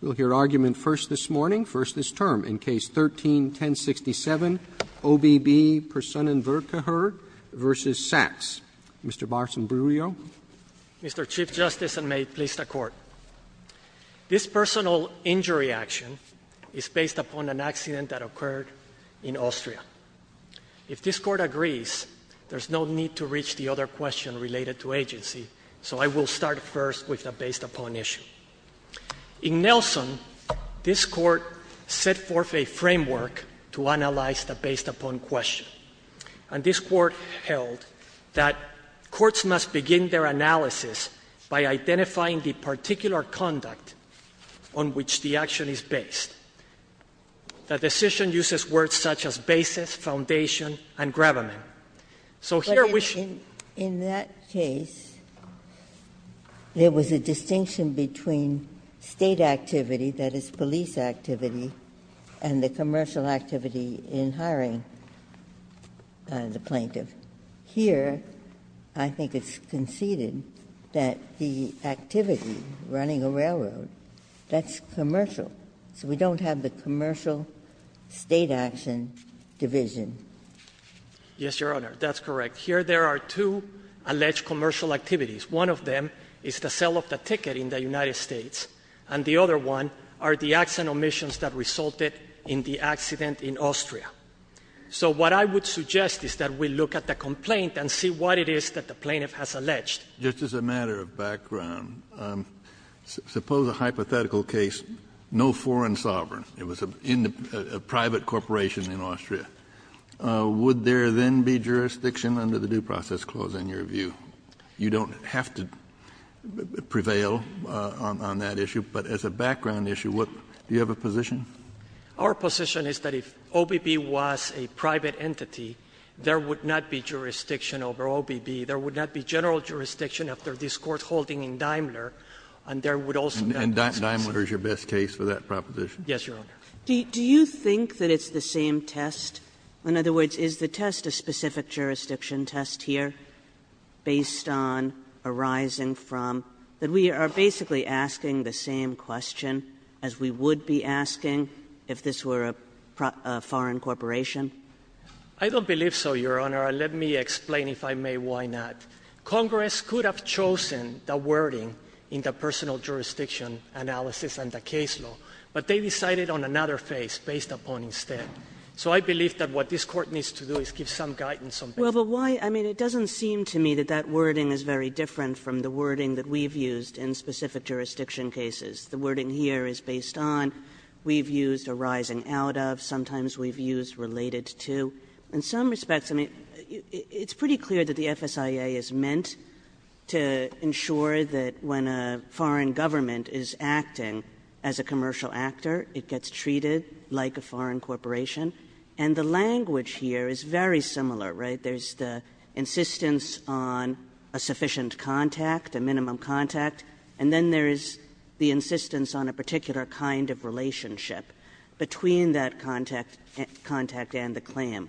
We'll hear argument first this morning, first this term, in Case 13-1067, OBB Personenverkehr v. Sachs. Mr. Barson-Bruio. Mr. Chief Justice, and may it please the Court, this personal injury action is based upon an accident that occurred in Austria. If this Court agrees, there's no need to reach the other question related to agency, so I will start first with the based-upon issue. In Nelson, this Court set forth a framework to analyze the based-upon question. And this Court held that courts must begin their analysis by identifying the particular conduct on which the action is based. The decision uses words such as basis, foundation, and gravamen. So here we should begin by identifying the particular conduct on which the action is based. Ginsburg. In that case, there was a distinction between State activity, that is, police activity, and the commercial activity in hiring the plaintiff. Here, I think it's conceded that the activity, running a railroad, that's commercial. So we don't have the commercial State action division. Yes, Your Honor. That's correct. Here there are two alleged commercial activities. One of them is the sale of the ticket in the United States, and the other one are the accident omissions that resulted in the accident in Austria. So what I would suggest is that we look at the complaint and see what it is that the plaintiff has alleged. Just as a matter of background, suppose a hypothetical case, no foreign sovereign, it was a private corporation in Austria. Would there then be jurisdiction under the due process clause in your view? You don't have to prevail on that issue, but as a background issue, what do you have a position? Our position is that if OBB was a private entity, there would not be jurisdiction over OBB, there would not be general jurisdiction after this Court holding in Daimler, and there would also not be jurisdiction. And Daimler is your best case for that proposition? Yes, Your Honor. Do you think that it's the same test? In other words, is the test a specific wording if this were a foreign corporation? I don't believe so, Your Honor, and let me explain, if I may, why not. Congress could have chosen the wording in the personal jurisdiction analysis and the case law, but they decided on another phase, based upon instead. So I believe that what this Court needs to do is give some guidance on that. Well, but why — I mean, it doesn't seem to me that that wording is very different from the wording that we've used in specific jurisdiction cases. The wording here is based on, we've used a rising out of, sometimes we've used related to. In some respects, I mean, it's pretty clear that the FSIA is meant to ensure that when a foreign government is acting as a commercial actor, it gets treated like a foreign corporation. And the language here is very similar, right? There's the insistence on a sufficient contact, a minimum contact, and then there is the insistence on a particular kind of relationship between that contact and the claim.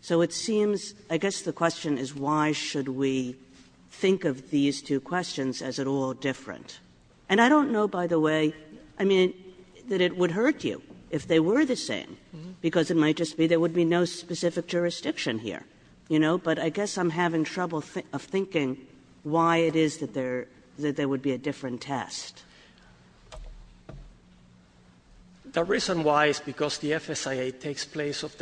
So it seems — I guess the question is why should we think of these two questions as at all different? And I don't know, by the way, I mean, that it would hurt you if they were the same, because it might just be there would be no specific jurisdiction here, you know? But I guess I'm having trouble thinking why it is that there would be a different test. The reason why is because the FSIA takes place of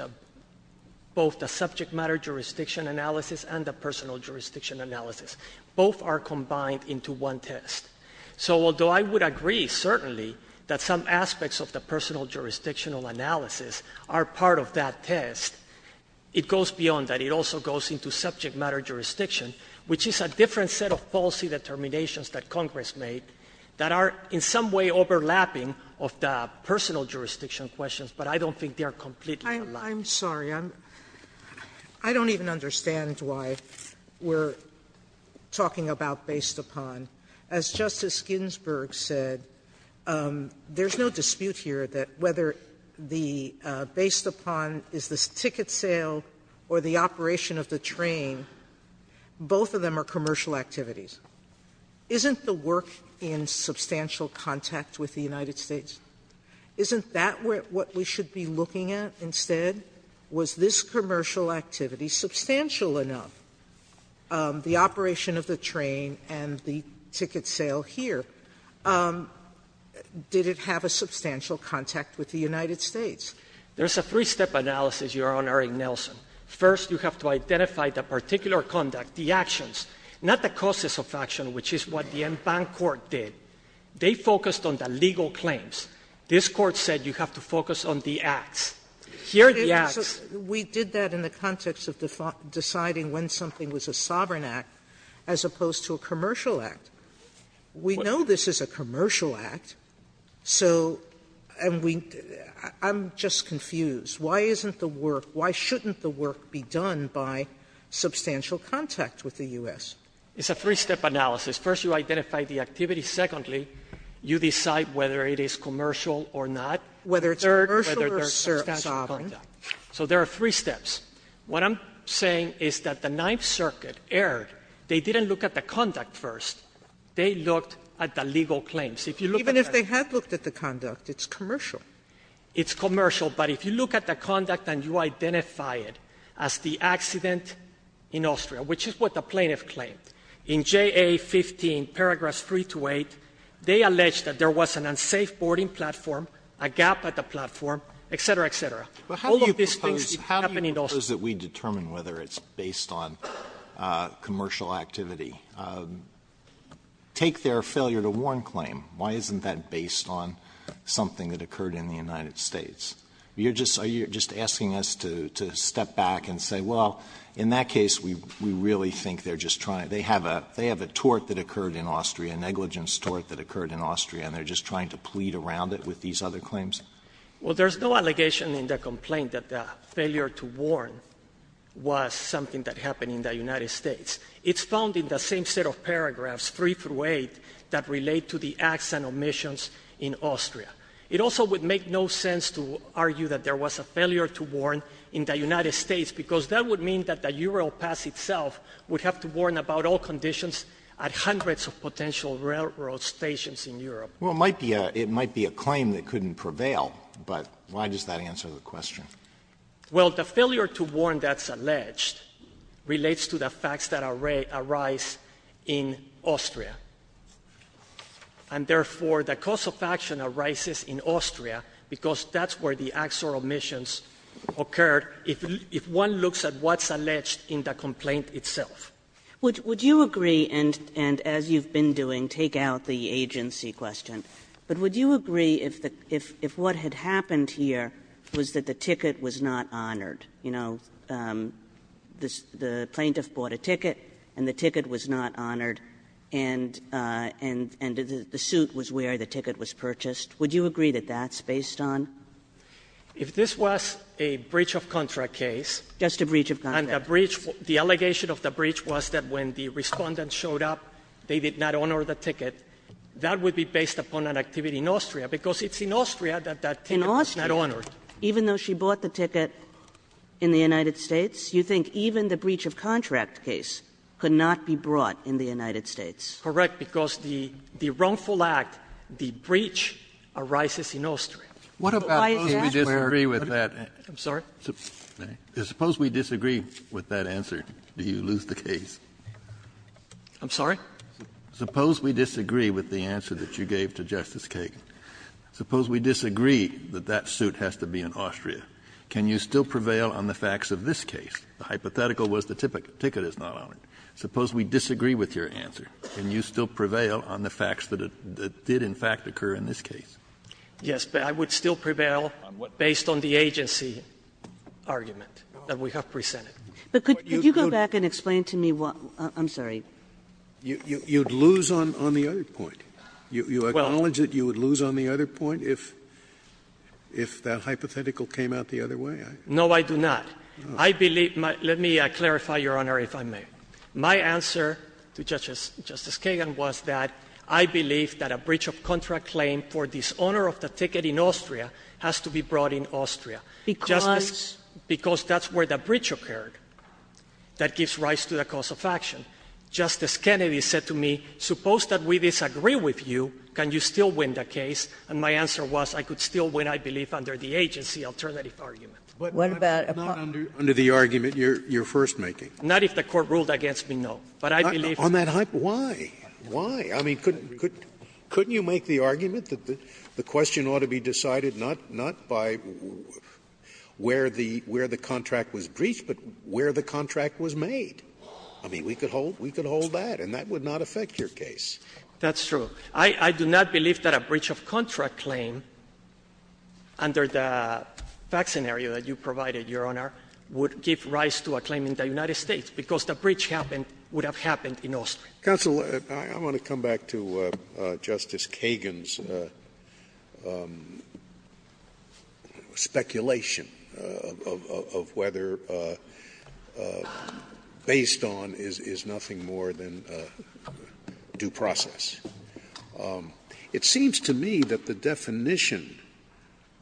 both the subject matter jurisdiction analysis and the personal jurisdiction analysis. Both are combined into one test. So although I would agree, certainly, that some aspects of the personal jurisdictional analysis are part of that test, it goes beyond that. It also goes into subject matter jurisdiction, which is a different set of policy determinations that Congress made that are in some way overlapping of the personal jurisdiction questions, but I don't think they are completely alike. Sotomayor, I'm sorry. I don't even understand why we're talking about based upon. As Justice Ginsburg said, there's no dispute here that whether the based upon is this Both of them are commercial activities. Isn't the work in substantial contact with the United States? Isn't that what we should be looking at instead? Was this commercial activity substantial enough? The operation of the train and the ticket sale here, did it have a substantial contact with the United States? There's a three-step analysis, Your Honor, in Nelson. First, you have to identify the particular conduct, the actions, not the causes of action, which is what the Enfant court did. They focused on the legal claims. This Court said you have to focus on the acts. Here, the acts. Sotomayor, we did that in the context of deciding when something was a sovereign act as opposed to a commercial act. We know this is a commercial act. So I'm just confused. Why isn't the work, why shouldn't the work be done by substantial contact with the U.S.? It's a three-step analysis. First, you identify the activity. Secondly, you decide whether it is commercial or not. Whether it's commercial or sovereign. So there are three steps. What I'm saying is that the Ninth Circuit erred. They didn't look at the conduct first. They looked at the legal claims. If you look at that. Sotomayor, even if they had looked at the conduct, it's commercial. It's commercial. But if you look at the conduct and you identify it as the accident in Austria, which is what the plaintiff claimed, in JA 15, paragraphs 3 to 8, they alleged that there was an unsafe boarding platform, a gap at the platform, et cetera, et cetera. All of these things happened in Austria. Alito, how do you propose that we determine whether it's based on commercial activity? Take their failure to warn claim. Why isn't that based on something that occurred in the United States? You're just asking us to step back and say, well, in that case, we really think they're just trying to they have a tort that occurred in Austria, a negligence tort that occurred in Austria, and they're just trying to plead around it with these other claims? Well, there's no allegation in the complaint that the failure to warn was something that happened in the United States. It's found in the same set of paragraphs, 3 through 8, that relate to the acts and omissions in Austria. It also would make no sense to argue that there was a failure to warn in the United States, because that would mean that the Europass itself would have to warn about all conditions at hundreds of potential railroad stations in Europe. Well, it might be a claim that couldn't prevail, but why does that answer the question? Well, the failure to warn that's alleged relates to the facts that arise in Austria. And therefore, the cause of action arises in Austria, because that's where the acts or omissions occurred, if one looks at what's alleged in the complaint itself. Would you agree, and as you've been doing, take out the agency question, but would you agree if what had happened here was that the ticket was not honored? You know, the plaintiff bought a ticket and the ticket was not honored, and the suit was where the ticket was purchased, would you agree that that's based on? If this was a breach of contract case, and the breach, the allegation of the breach was that when the Respondent showed up, they did not honor the ticket, that would be based upon an activity in Austria, because it's in Austria that that ticket was not honored. Kagan In Austria, even though she bought the ticket in the United States, you think even the breach of contract case could not be brought in the United States? Correct. Because the wrongful act, the breach, arises in Austria. Why is that where? Kennedy Suppose we disagree with that. I'm sorry? Suppose we disagree with that answer, do you lose the case? I'm sorry? Suppose we disagree with the answer that you gave to Justice Kagan. Suppose we disagree that that suit has to be in Austria. Can you still prevail on the facts of this case? The hypothetical was the ticket is not honored. Suppose we disagree with your answer. Can you still prevail on the facts that it did in fact occur in this case? Yes, but I would still prevail based on the agency argument that we have presented. But could you go back and explain to me what the other argument is? I'm sorry. You'd lose on the other point. You acknowledge that you would lose on the other point if that hypothetical came out the other way? No, I do not. I believe my – let me clarify, Your Honor, if I may. My answer to Justice Kagan was that I believe that a breach of contract claim for dishonor of the ticket in Austria has to be brought in Austria. Because? Because that's where the breach occurred that gives rise to the cause of action. Justice Kennedy said to me, suppose that we disagree with you, can you still win the case? And my answer was I could still win, I believe, under the agency alternative argument. What about a part? Not under the argument you're first making. Not if the Court ruled against me, no. But I believe that's the case. On that hypothetical, why? Why? I mean, couldn't you make the argument that the question ought to be decided not by where the contract was breached, but where the contract was made? I mean, we could hold that, and that would not affect your case. That's true. I do not believe that a breach of contract claim under the fact scenario that you provided, Your Honor, would give rise to a claim in the United States, because the breach happened – would have happened in Austria. Counsel, I want to come back to Justice Kagan's speculation of whether basically what it's based on is nothing more than due process. It seems to me that the definition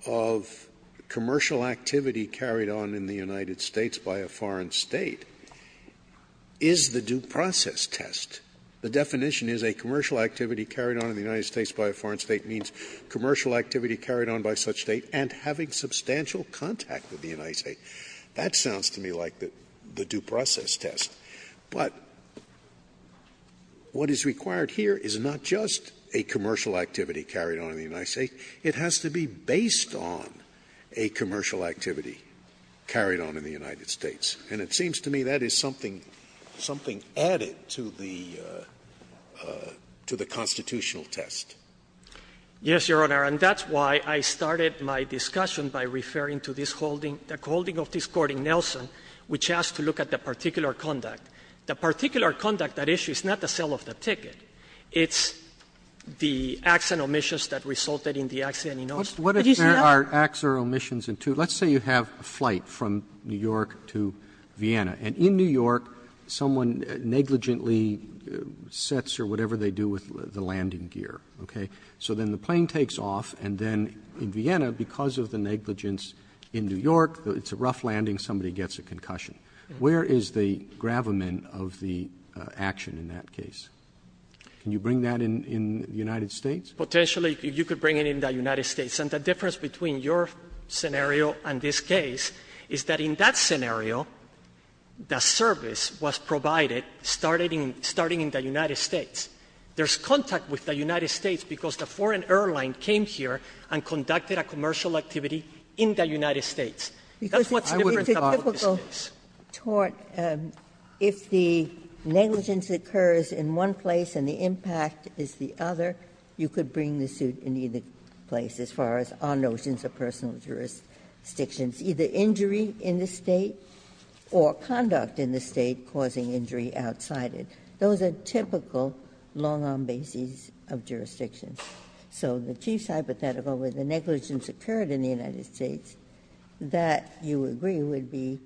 of commercial activity carried on in the United States by a foreign State is the due process test. The definition is a commercial activity carried on in the United States by a foreign State means commercial activity carried on by such State and having substantial contact with the United States. That sounds to me like the due process test. But what is required here is not just a commercial activity carried on in the United States. It has to be based on a commercial activity carried on in the United States. And it seems to me that is something added to the constitutional test. Yes, Your Honor. And that's why I started my discussion by referring to this holding, the holding of this court in Nelson, which has to look at the particular conduct. The particular conduct, that issue, is not the sale of the ticket. It's the acts and omissions that resulted in the accident in Austria. It is not the sale of the ticket. Roberts, what if there are acts or omissions in two? Let's say you have a flight from New York to Vienna, and in New York, someone negligently sets or whatever they do with the landing gear, okay? So then the plane takes off, and then in Vienna, because of the negligence in New York, it's a rough landing, somebody gets a concussion. Where is the gravamen of the action in that case? Can you bring that in the United States? Potentially, you could bring it in the United States. And the difference between your scenario and this case is that in that scenario, the service was provided starting in the United States. There is contact with the United States because the foreign airline came here and conducted a commercial activity in the United States. That's what's different about this case. Ginsburg. If the negligence occurs in one place and the impact is the other, you could bring the suit in either place as far as our notions of personal jurisdictions. Either injury in the State or conduct in the State causing injury outside it. Those are typical long-arm bases of jurisdictions. So the Chief's hypothetical, where the negligence occurred in the United States, that, you agree, would be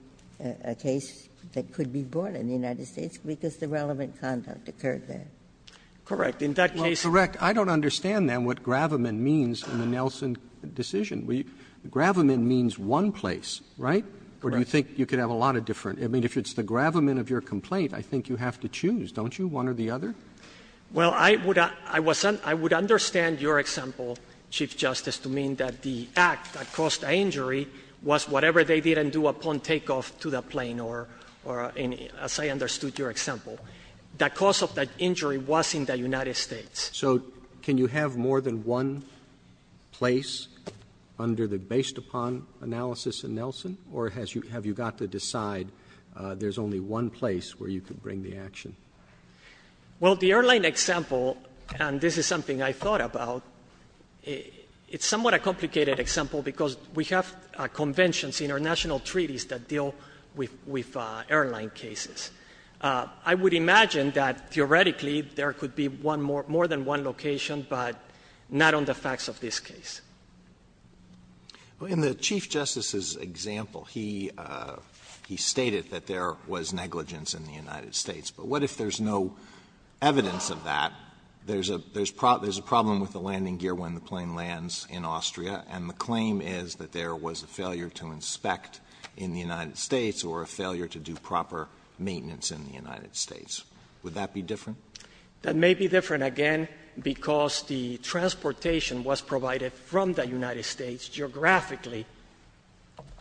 a case that could be brought in the United States because the relevant conduct occurred there. In that case there was a negligence. Well, correct. I don't understand, then, what gravamen means in the Nelson decision. Gravamen means one place, right? Correct. Or do you think you could have a lot of different — I mean, if it's the gravamen of your complaint, I think you have to choose, don't you, one or the other? Well, I would — I would understand your example, Chief Justice, to mean that the act that caused the injury was whatever they didn't do upon takeoff to the plane or any — as I understood your example. The cause of that injury was in the United States. So can you have more than one place under the based-upon analysis in Nelson, or has you — have you got to decide there's only one place where you could bring the action? Well, the airline example — and this is something I thought about — it's somewhat a complicated example because we have conventions, international treaties, that deal with airline cases. I would imagine that, theoretically, there could be one more — more than one location, but not on the facts of this case. Well, in the Chief Justice's example, he — he stated that there was negligence in the United States. But what if there's no evidence of that? There's a — there's a problem with the landing gear when the plane lands in Austria, and the claim is that there was a failure to inspect in the United States or a failure to do proper maintenance in the United States. Would that be different? That may be different, again, because the transportation was provided from the United States geographically.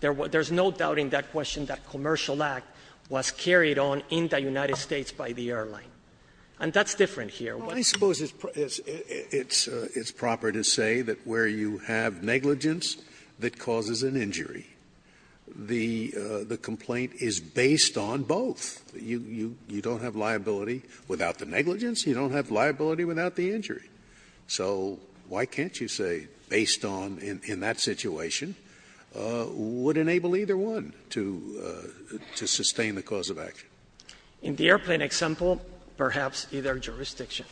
There's no doubting that question, that commercial act was carried on in the United States by the airline. And that's different here. Well, I suppose it's — it's proper to say that where you have negligence that causes an injury, the — the complaint is based on both. You — you don't have liability without the negligence. You don't have liability without the injury. So why can't you say, based on — in that situation, would enable either one to — to sustain the cause of action? In the airplane example, perhaps either jurisdiction.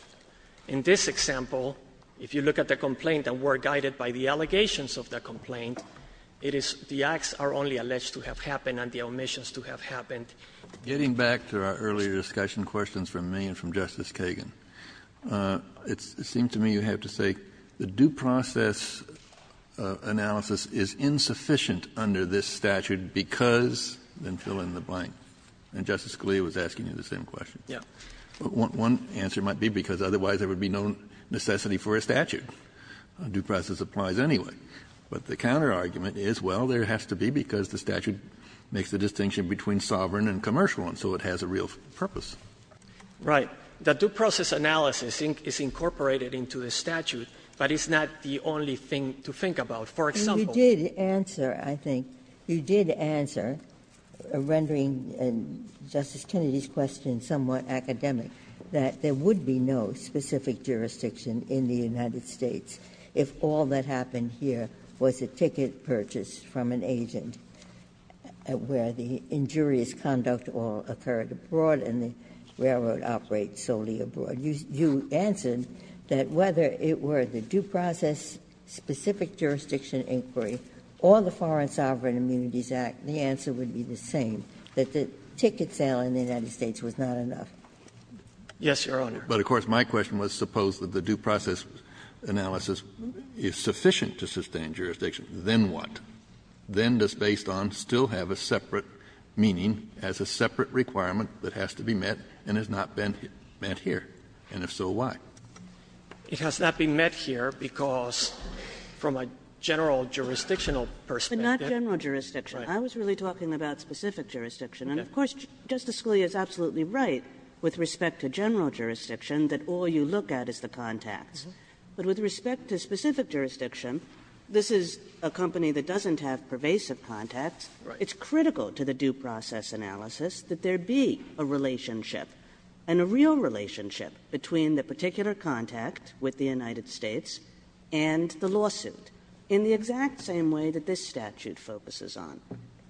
In this example, if you look at the complaint and we're guided by the allegations of the complaint, it is — the acts are only alleged to have happened and the omissions to have happened. Getting back to our earlier discussion questions from me and from Justice Kagan, it seems to me you have to say the due process analysis is insufficient under this statute because — then fill in the blank. And Justice Scalia was asking you the same question. Yeah. One answer might be because otherwise there would be no necessity for a statute. Due process applies anyway. But the counterargument is, well, there has to be, because the statute makes the distinction between sovereign and commercial, and so it has a real purpose. Right. The due process analysis is incorporated into the statute, but it's not the only thing to think about. For example — You did answer, I think, you did answer, rendering Justice Kennedy's question somewhat academic, that there would be no specific jurisdiction in the United States if all that happened here was a ticket purchased from an agent where the injurious conduct all occurred abroad and the railroad operates solely abroad. You answered that whether it were the due process-specific jurisdiction inquiry or the Foreign Sovereign Immunities Act, the answer would be the same, that the ticket sale in the United States was not enough. Yes, Your Honor. But, of course, my question was, suppose that the due process analysis is sufficient to sustain jurisdiction, then what? Then does based on still have a separate meaning, has a separate requirement that has to be met, and has not been met here? And if so, why? It has not been met here because, from a general jurisdictional perspective But not general jurisdiction. I was really talking about specific jurisdiction. And, of course, Justice Scalia is absolutely right with respect to general jurisdiction that all you look at is the contacts. But with respect to specific jurisdiction, this is a company that doesn't have pervasive contacts. It's critical to the due process analysis that there be a relationship and a real relationship between the particular contact with the United States and the lawsuit in the exact same way that this statute focuses on.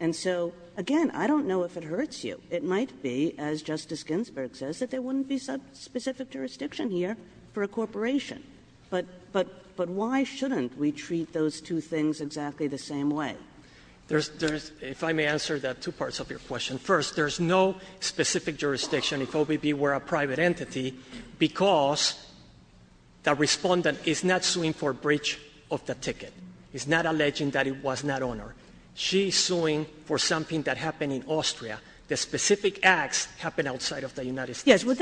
And so, again, I don't know if it hurts you. It might be, as Justice Ginsburg says, that there wouldn't be some specific jurisdiction here for a corporation. But why shouldn't we treat those two things exactly the same way? There's, if I may answer that, two parts of your question. First, there's no specific jurisdiction if OBB were a private entity because the Respondent is not suing for breach of the ticket. It's not alleging that it was not on her. She is suing for something that happened in Austria. The specific acts happened outside of the United States. Kagan.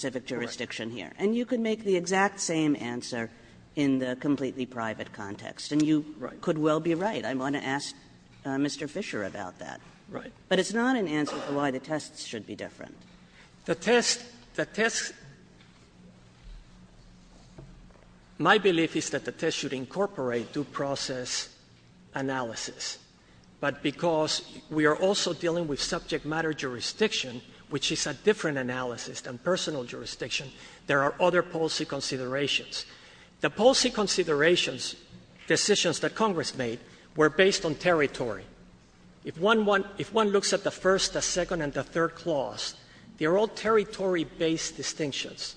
Kagan. And you can make the exact same answer in the completely private context. And you could well be right, and I want to ask Mr. Fischer about that. Right. But it's not an answer about why the tests should be different. The tests, the tests — my belief is that the tests should incorporate due process analysis, but because we are also dealing with subject matter jurisdiction, which is a different analysis than personal jurisdiction, there are other policy considerations. The policy considerations, decisions that Congress made, were based on territory. If one looks at the first, the second, and the third clause, they're all territory-based distinctions.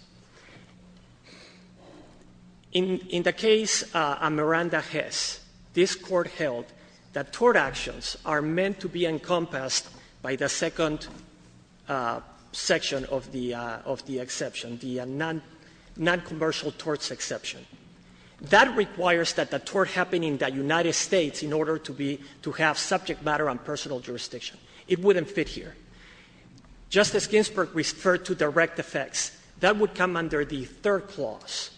In the case on Miranda Hess, this Court held that tort actions are meant to be encompassed by the second section of the exception, the noncommercial torts exception. That requires that the tort happen in the United States in order to be — to have subject matter and personal jurisdiction. It wouldn't fit here. Justice Ginsburg referred to direct effects. That would come under the third clause,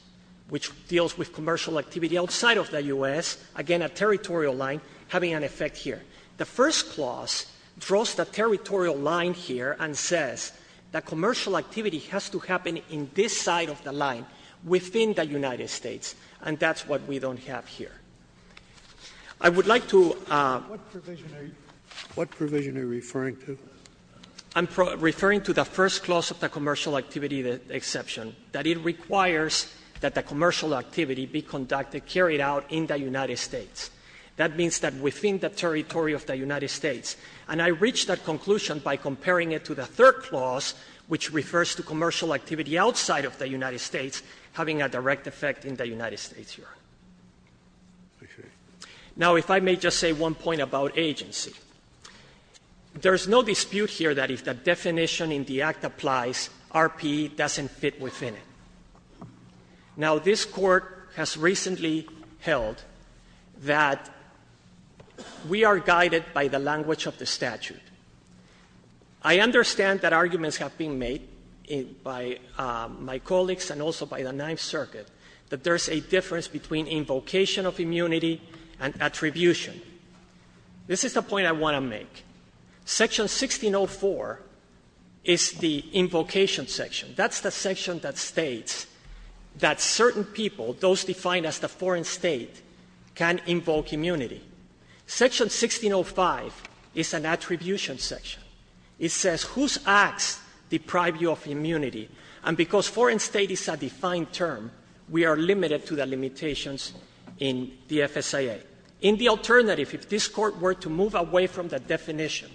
which deals with commercial activity outside of the U.S., again, a territorial line having an effect here. The first clause draws the territorial line here and says that commercial activity has to happen in this side of the line within the United States, and that's what we don't have here. I would like to — Scalia, what provision are you referring to? I'm referring to the first clause of the commercial activity exception, that it requires that the commercial activity be conducted, carried out in the United States. That means that within the territory of the United States. And I reached that conclusion by comparing it to the third clause, which refers to commercial activity outside of the United States having a direct effect in the United States here. Now, if I may just say one point about agency. There's no dispute here that if the definition in the Act applies, R.P.E. doesn't fit within it. Now, this Court has recently held that we are guided by the language of the statute. I understand that arguments have been made by my colleagues and also by the Ninth Circuit that there's a difference between invocation of immunity and attribution. This is the point I want to make. Section 1604 is the invocation section. That's the section that states that certain people, those defined as the foreign state, can invoke immunity. Section 1605 is an attribution section. It says whose acts deprive you of immunity. And because foreign state is a defined term, we are limited to the limitations in the FSIA. In the alternative, if this Court were to move away from the definition,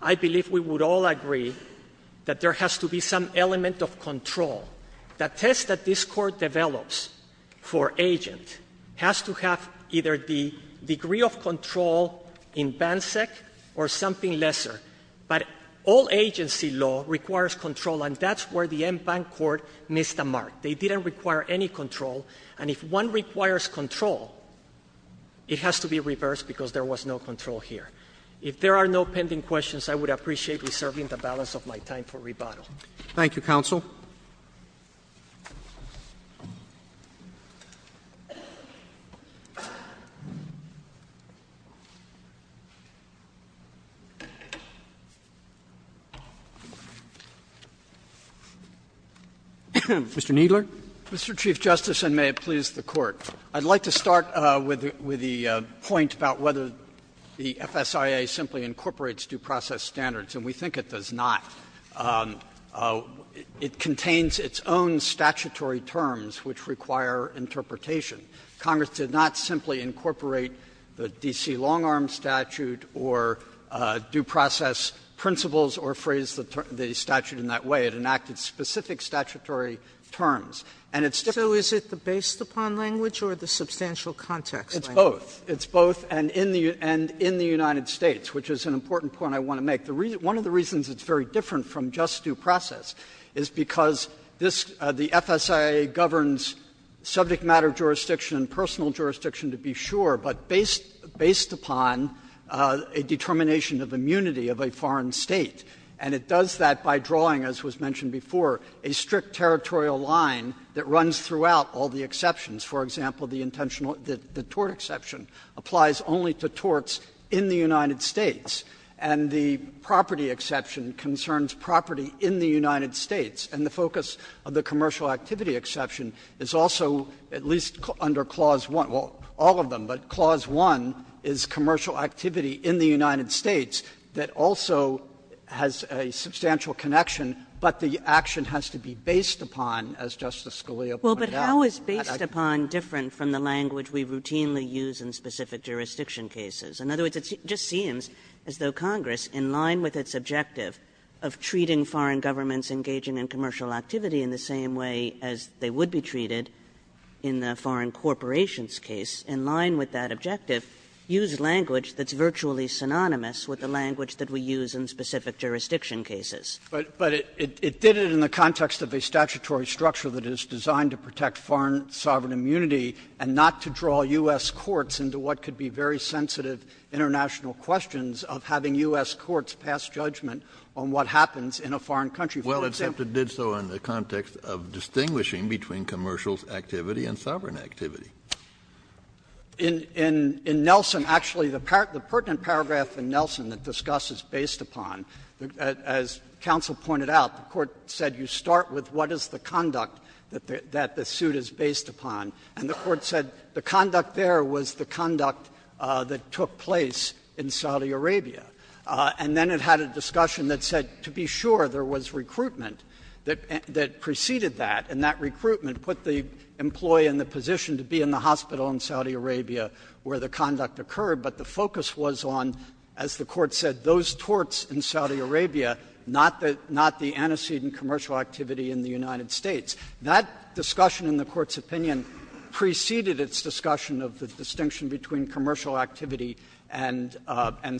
I believe we would all agree that there has to be some element of control. The test that this Court develops for agent has to have either the degree of control in BANSEC or something lesser. But all agency law requires control, and that's where the en banc Court missed the mark. They didn't require any control. And if one requires control, it has to be reversed because there was no control here. If there are no pending questions, I would appreciate reserving the balance of my time for rebuttal. Thank you, counsel. Mr. Kneedler. Mr. Chief Justice, and may it please the Court. I'd like to start with the point about whether the FSIA simply incorporates due process standards, and we think it does not. It contains its own statutory terms which require interpretation. Congress did not simply incorporate the D.C. long arm statute or due process principles or phrase the statute in that way. It enacted specific statutory terms, and it's different. So is it the based upon language or the substantial context? It's both. It's both, and in the United States, which is an important point I want to make. One of the reasons it's very different from just due process is because this the FSIA governs subject matter jurisdiction, personal jurisdiction, to be sure, but based upon a determination of immunity of a foreign State. And it does that by drawing, as was mentioned before, a strict territorial line that runs throughout all the exceptions. For example, the intentional the tort exception applies only to torts in the United States, and the property exception concerns property in the United States. And the focus of the commercial activity exception is also at least under Clause 1, well, all of them, but Clause 1 is commercial activity in the United States that also has a substantial connection, but the action has to be based upon, as Justice Scalia pointed out. Kagan. Kagan. But how is based upon different from the language we routinely use in specific jurisdiction cases? In other words, it just seems as though Congress, in line with its objective of treating foreign governments engaging in commercial activity in the same way as they would be treated in the foreign corporations case, in line with that objective, used language that's virtually synonymous with the language that we use in specific jurisdiction cases. But it did it in the context of a statutory structure that is designed to protect foreign sovereign immunity and not to draw U.S. courts into what could be very sensitive international questions of having U.S. courts pass judgment on what happens in a foreign country. Well, it did so in the context of distinguishing between commercial activity and sovereign activity. In Nelson, actually, the pertinent paragraph in Nelson that discusses based upon, as counsel pointed out, the Court said you start with what is the conduct that the suit is based upon. And the Court said the conduct there was the conduct that took place in Saudi Arabia. And then it had a discussion that said to be sure there was recruitment that preceded that, and that recruitment put the employee in the position to be in the hospital in Saudi Arabia where the conduct occurred, but the focus was on, as the Court said, those torts in Saudi Arabia, not the antecedent commercial activity in the United States. That discussion in the Court's opinion preceded its discussion of the distinction between commercial activity and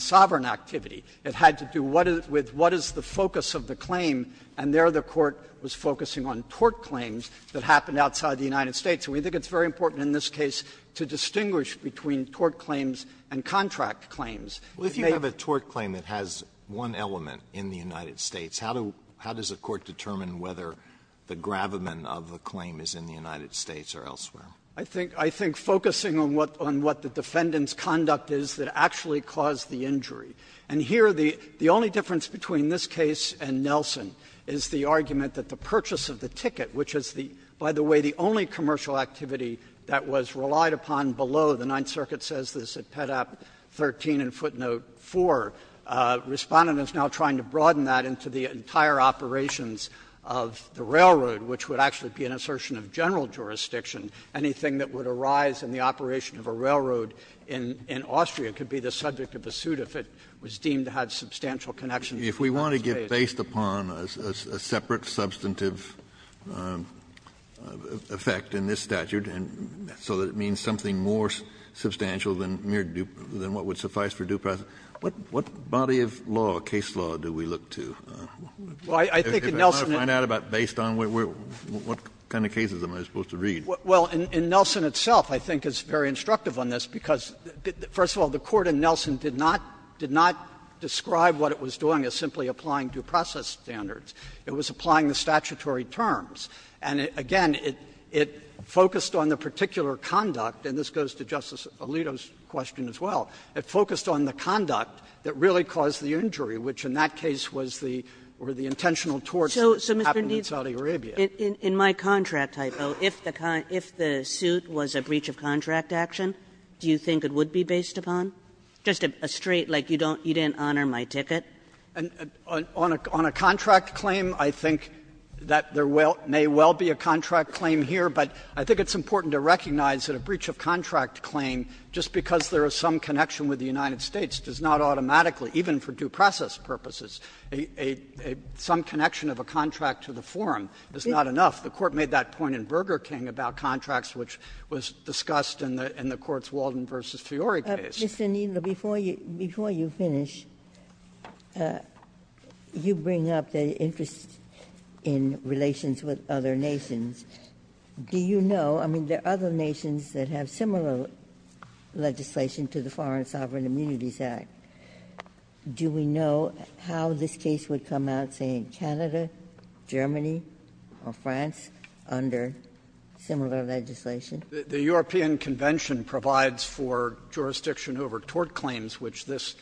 sovereign activity. It had to do with what is the focus of the claim, and there the Court was focusing on tort claims that happened outside the United States. And we think it's very important in this case to distinguish between tort claims and contract claims. Alito, if you have a tort claim that has one element in the United States, how do you how does the Court determine whether the gravamen of the claim is in the United States or elsewhere? I think focusing on what the defendant's conduct is that actually caused the injury. And here, the only difference between this case and Nelson is the argument that the purchase of the ticket, which is the, by the way, the only commercial activity that was relied upon below, the Ninth Circuit says this at Pet. 13 and footnote 4, Respondent is now trying to broaden that into the entire operations of the railroad, which would actually be an assertion of general jurisdiction. Anything that would arise in the operation of a railroad in Austria could be the subject of a suit if it was deemed to have substantial connections to the United States. Kennedy, if you want to get based upon a separate substantive effect in this statute and so that it means something more substantial than mere due, than what would suffice for due process, what body of law, case law, do we look to? If I want to find out about based on what kind of cases am I supposed to read? Well, in Nelson itself, I think, is very instructive on this because, first of all, the Court in Nelson did not describe what it was doing as simply applying due process standards. It was applying the statutory terms. And, again, it focused on the particular conduct, and this goes to Justice Alito's question as well, it focused on the conduct that really caused the injury, which in that case was the intentional torts that happened in Saudi Arabia. Kagan in my contract typo, if the suit was a breach of contract action, do you think it would be based upon? Just a straight, like, you don't you didn't honor my ticket? Kneedler, On a contract claim, I think that there may well be a contract claim here, but I think it's important to recognize that a breach of contract claim, just because there is some connection with the United States, does not automatically even for due process purposes, some connection of a contract to the forum is not enough. The Court made that point in Burger King about contracts, which was discussed in the Court's Walden v. Fiori case. Ginsburg, Mr. Kneedler, before you finish, you bring up the interest in relations with other nations. Do you know, I mean, there are other nations that have similar legislation to the Foreign Sovereign Immunities Act. Do we know how this case would come out, say, in Canada, Germany, or France, under Kneedler, The European Convention provides for jurisdiction over tort claims, which this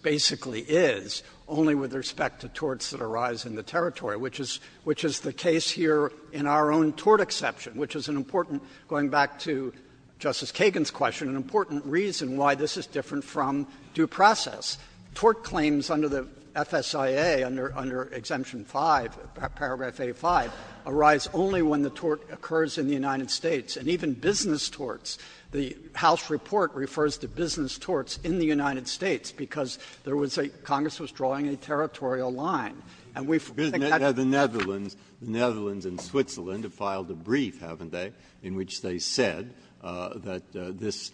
basically is, only with respect to torts that arise in the territory, which is the case here in our own tort exception, which is an important, going back to Justice Kagan's question, an important reason why this is different from due process. Tort claims under the FSIA, under Exemption 5, Paragraph 85, arise only when the tort occurs in the United States, and even business torts. The House report refers to business torts in the United States, because there was a — Congress was drawing a territorial line. And we think that's the case. Breyer, you said that this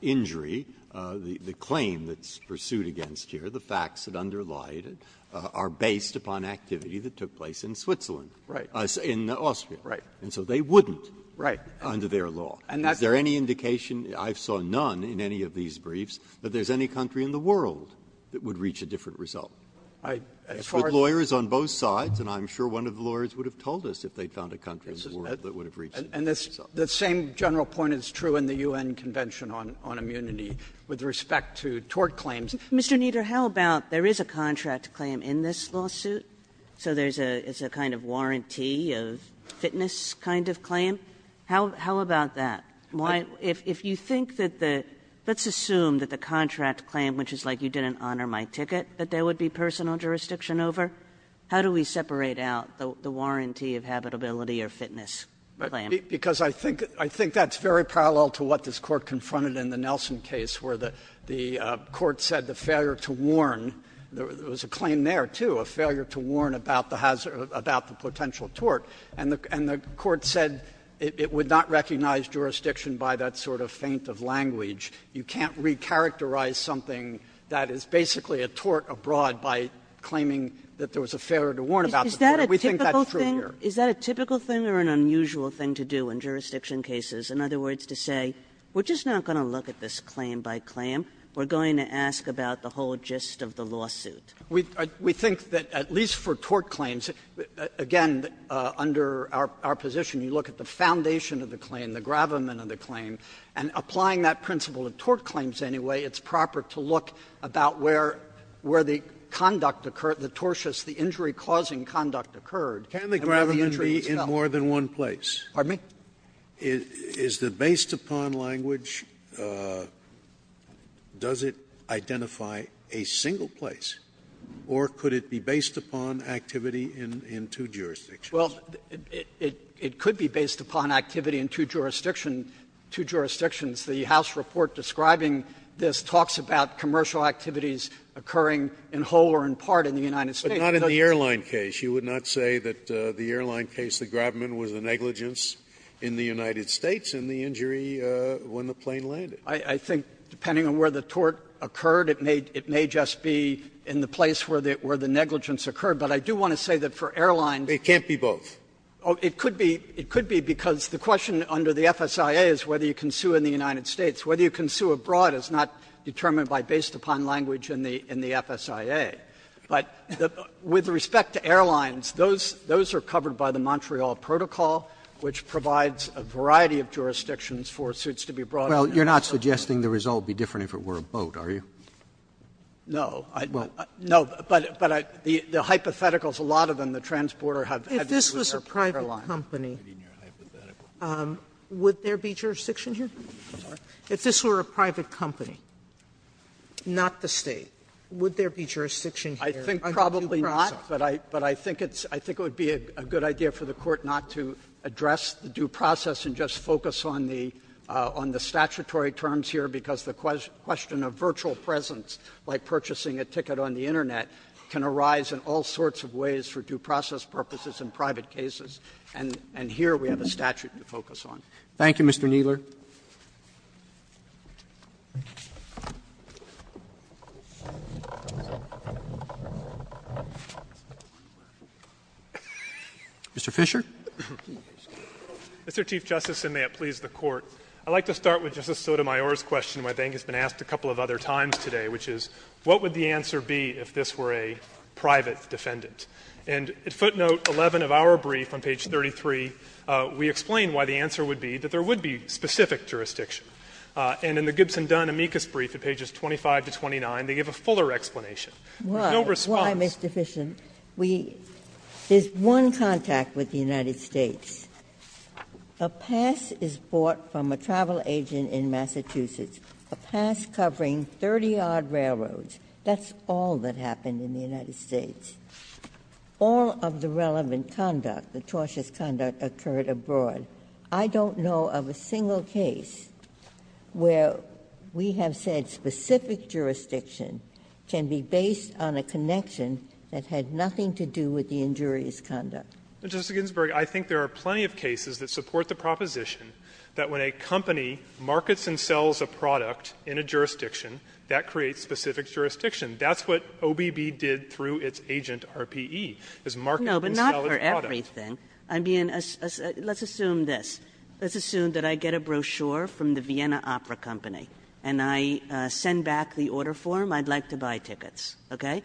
injury, the claim that's pursued against here, the facts that underlie it, are based upon activity that took place in Switzerland. Kneedler, Right. Breyer, in Austria. Kneedler, Right. Breyer, And so they wouldn't. Kneedler, Right. Breyer, Under their law. Kneedler, And that's the case. Breyer, Is there any indication — I saw none in any of these briefs — that there's any country in the world that would reach a different result? Kneedler, I — as far as — Breyer, With lawyers on both sides, and I'm sure one of the lawyers would have told us if they found a country in the world that would have reached a different result. Kneedler, And this — the same general point is true in the U.N. Convention on Immunity with respect to tort claims. Kagan, Mr. Kneedler, how about there is a contract claim in this lawsuit? So there's a — it's a kind of warranty of fitness kind of claim? How — how about that? Why — if you think that the — let's assume that the contract claim, which is like you didn't honor my ticket, that there would be personal jurisdiction over, how do we separate out the — the warranty of habitability or fitness claim? Kneedler, Because I think — I think that's very parallel to what this Court confronted in the Nelson case, where the — the Court said the failure to warn — there was a claim there, too — a failure to warn about the hazard — about the potential tort. And the — and the Court said it would not recognize jurisdiction by that sort of feint of language. You can't recharacterize something that is basically a tort abroad by claiming that there was a failure to warn about the tort. We think that's true here. Kagan Is that a typical thing or an unusual thing to do in jurisdiction cases? In other words, to say, we're just not going to look at this claim by claim. We're going to ask about the whole gist of the lawsuit. Kneedler, We — we think that at least for tort claims, again, under our — our position, you look at the foundation of the claim, the gravamen of the claim, and applying that principle of tort claims anyway, it's proper to look about where — where the conduct occurred, the tortious, the injury-causing conduct occurred. And where the injury was felt. Scalia Pardon me? Scalia Is the based-upon language, does it identify a single place, or could it be based upon activity in two jurisdictions? Kneedler Well, it could be based upon activity in two jurisdictions. The House report describing this talks about commercial activities occurring in whole or in part in the United States. Scalia But not in the airline case. You would not say that the airline case, the gravamen, was a negligence in the United States in the injury when the plane landed. Kneedler I think, depending on where the tort occurred, it may — it may just be in the place where the — where the negligence occurred. But I do want to say that for airlines — Scalia It can't be both. Kneedler It could be — it could be because the question under the FSIA is whether you can sue in the United States. Whether you can sue abroad is not determined by based-upon language in the — in the FSIA. But with respect to airlines, those — those are covered by the Montreal Protocol, which provides a variety of jurisdictions for suits to be brought in. Roberts Well, you're not suggesting the result would be different if it were a boat, are you? Kneedler No. No, but I — the hypotheticals, a lot of them, the transporter had to do with the airline. Sotomayor If this was a private company, would there be jurisdiction here? If this were a private company, not the State, would there be jurisdiction here? Kneedler I think probably not, but I — but I think it's — I think it would be a good idea for the Court not to address the due process and just focus on the — on the statutory terms here, because the question of virtual presence, like purchasing a ticket on the Internet, can arise in all sorts of ways for due process purposes in private cases, and — and here we have a statute to focus on. Roberts Thank you, Mr. Kneedler. Mr. Fischer. Fischer Mr. Chief Justice, and may it please the Court, I'd like to start with Justice Sotomayor's question, which I think has been asked a couple of other times today, which is what would the answer be if this were a private defendant? And footnote 11 of our brief on page 33, we explain why the answer would be that there is no specific jurisdiction. And in the Gibson-Dunn amicus brief at pages 25 to 29, they give a fuller explanation. There's no response. Ginsburg Why? Why, Mr. Fischer? We — there's one contact with the United States. A pass is bought from a travel agent in Massachusetts, a pass covering 30-odd railroads. That's all that happened in the United States. All of the relevant conduct, the tortious conduct, occurred abroad. I don't know of a single case where we have said specific jurisdiction can be based on a connection that had nothing to do with the injurious conduct. Mr. Fisher But, Justice Ginsburg, I think there are plenty of cases that support the proposition that when a company markets and sells a product in a jurisdiction, that creates specific jurisdiction. That's what OBB did through its agent, RPE, is market and sell its product. I mean, let's assume this. Let's assume that I get a brochure from the Vienna Opera Company, and I send back the order form, I'd like to buy tickets, okay?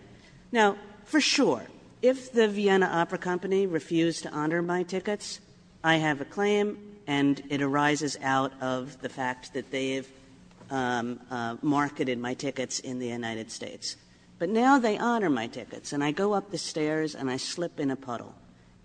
Now, for sure, if the Vienna Opera Company refused to honor my tickets, I have a claim, and it arises out of the fact that they have marketed my tickets in the United States. But now they honor my tickets, and I go up the stairs and I slip in a puddle,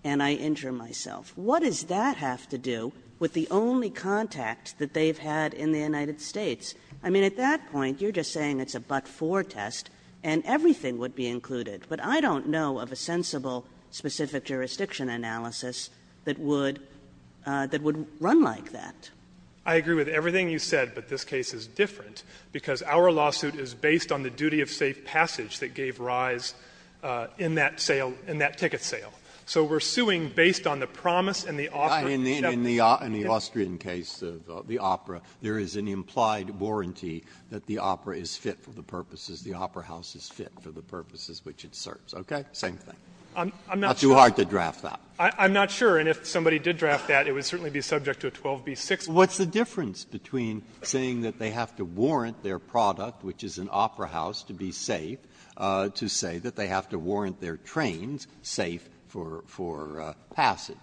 and I injure myself. What does that have to do with the only contact that they've had in the United States? I mean, at that point, you're just saying it's a but-for test, and everything would be included. But I don't know of a sensible specific jurisdiction analysis that would run like that. Fisher I agree with everything you said, but this case is different, because our lawsuit is based on the duty of safe passage that gave rise in that sale, in that ticket sale. So we're suing based on the promise and the offer of the Japanese ticket. Breyer In the Austrian case of the opera, there is an implied warranty that the opera is fit for the purposes, the opera house is fit for the purposes which it serves, okay? Same thing. Fisher I'm not sure. Breyer Not too hard to draft that. Fisher I'm not sure. And if somebody did draft that, it would certainly be subject to a 12b-6 rule. Breyer What's the difference between saying that they have to warrant their product, which is an opera house, to be safe, to say that they have to warrant their trains safe for passage?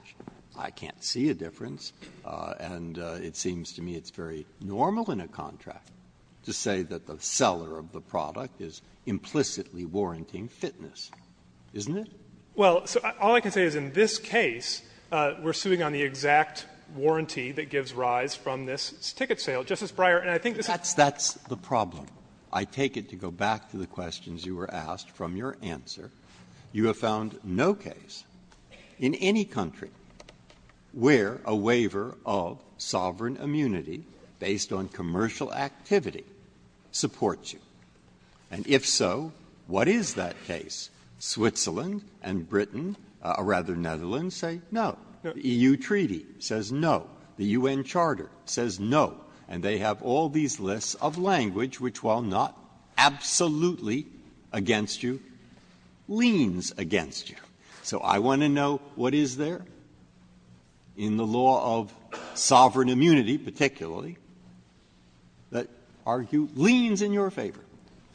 I can't see a difference. And it seems to me it's very normal in a contract to say that the seller of the product is implicitly warranting fitness, isn't it? Fisher Well, so all I can say is in this case, we're suing on the exact warranty that gives rise from this ticket sale. Justice Breyer, and I think this is the problem. Breyer That's the problem. I take it to go back to the questions you were asked from your answer. You have found no case in any country where a waiver of sovereign immunity based on commercial activity supports you. And if so, what is that case? Switzerland and Britain, or rather Netherlands, say no. The EU treaty says no. The U.N. charter says no. And they have all these lists of language which, while not absolutely against you, leans against you. So I want to know what is there in the law of sovereign immunity particularly that argue leans in your favor?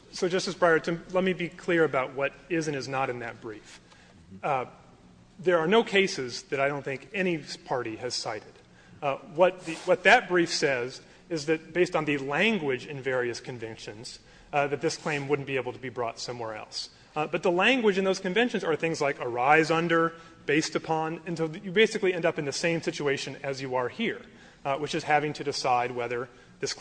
Fisher So, Justice Breyer, to let me be clear about what is and is not in that brief. There are no cases that I don't think any party has cited. What that brief says is that based on the language in various conventions, that this claim wouldn't be able to be brought somewhere else. But the language in those conventions are things like arise under, based upon, and so you basically end up in the same situation as you are here, which is having to decide whether this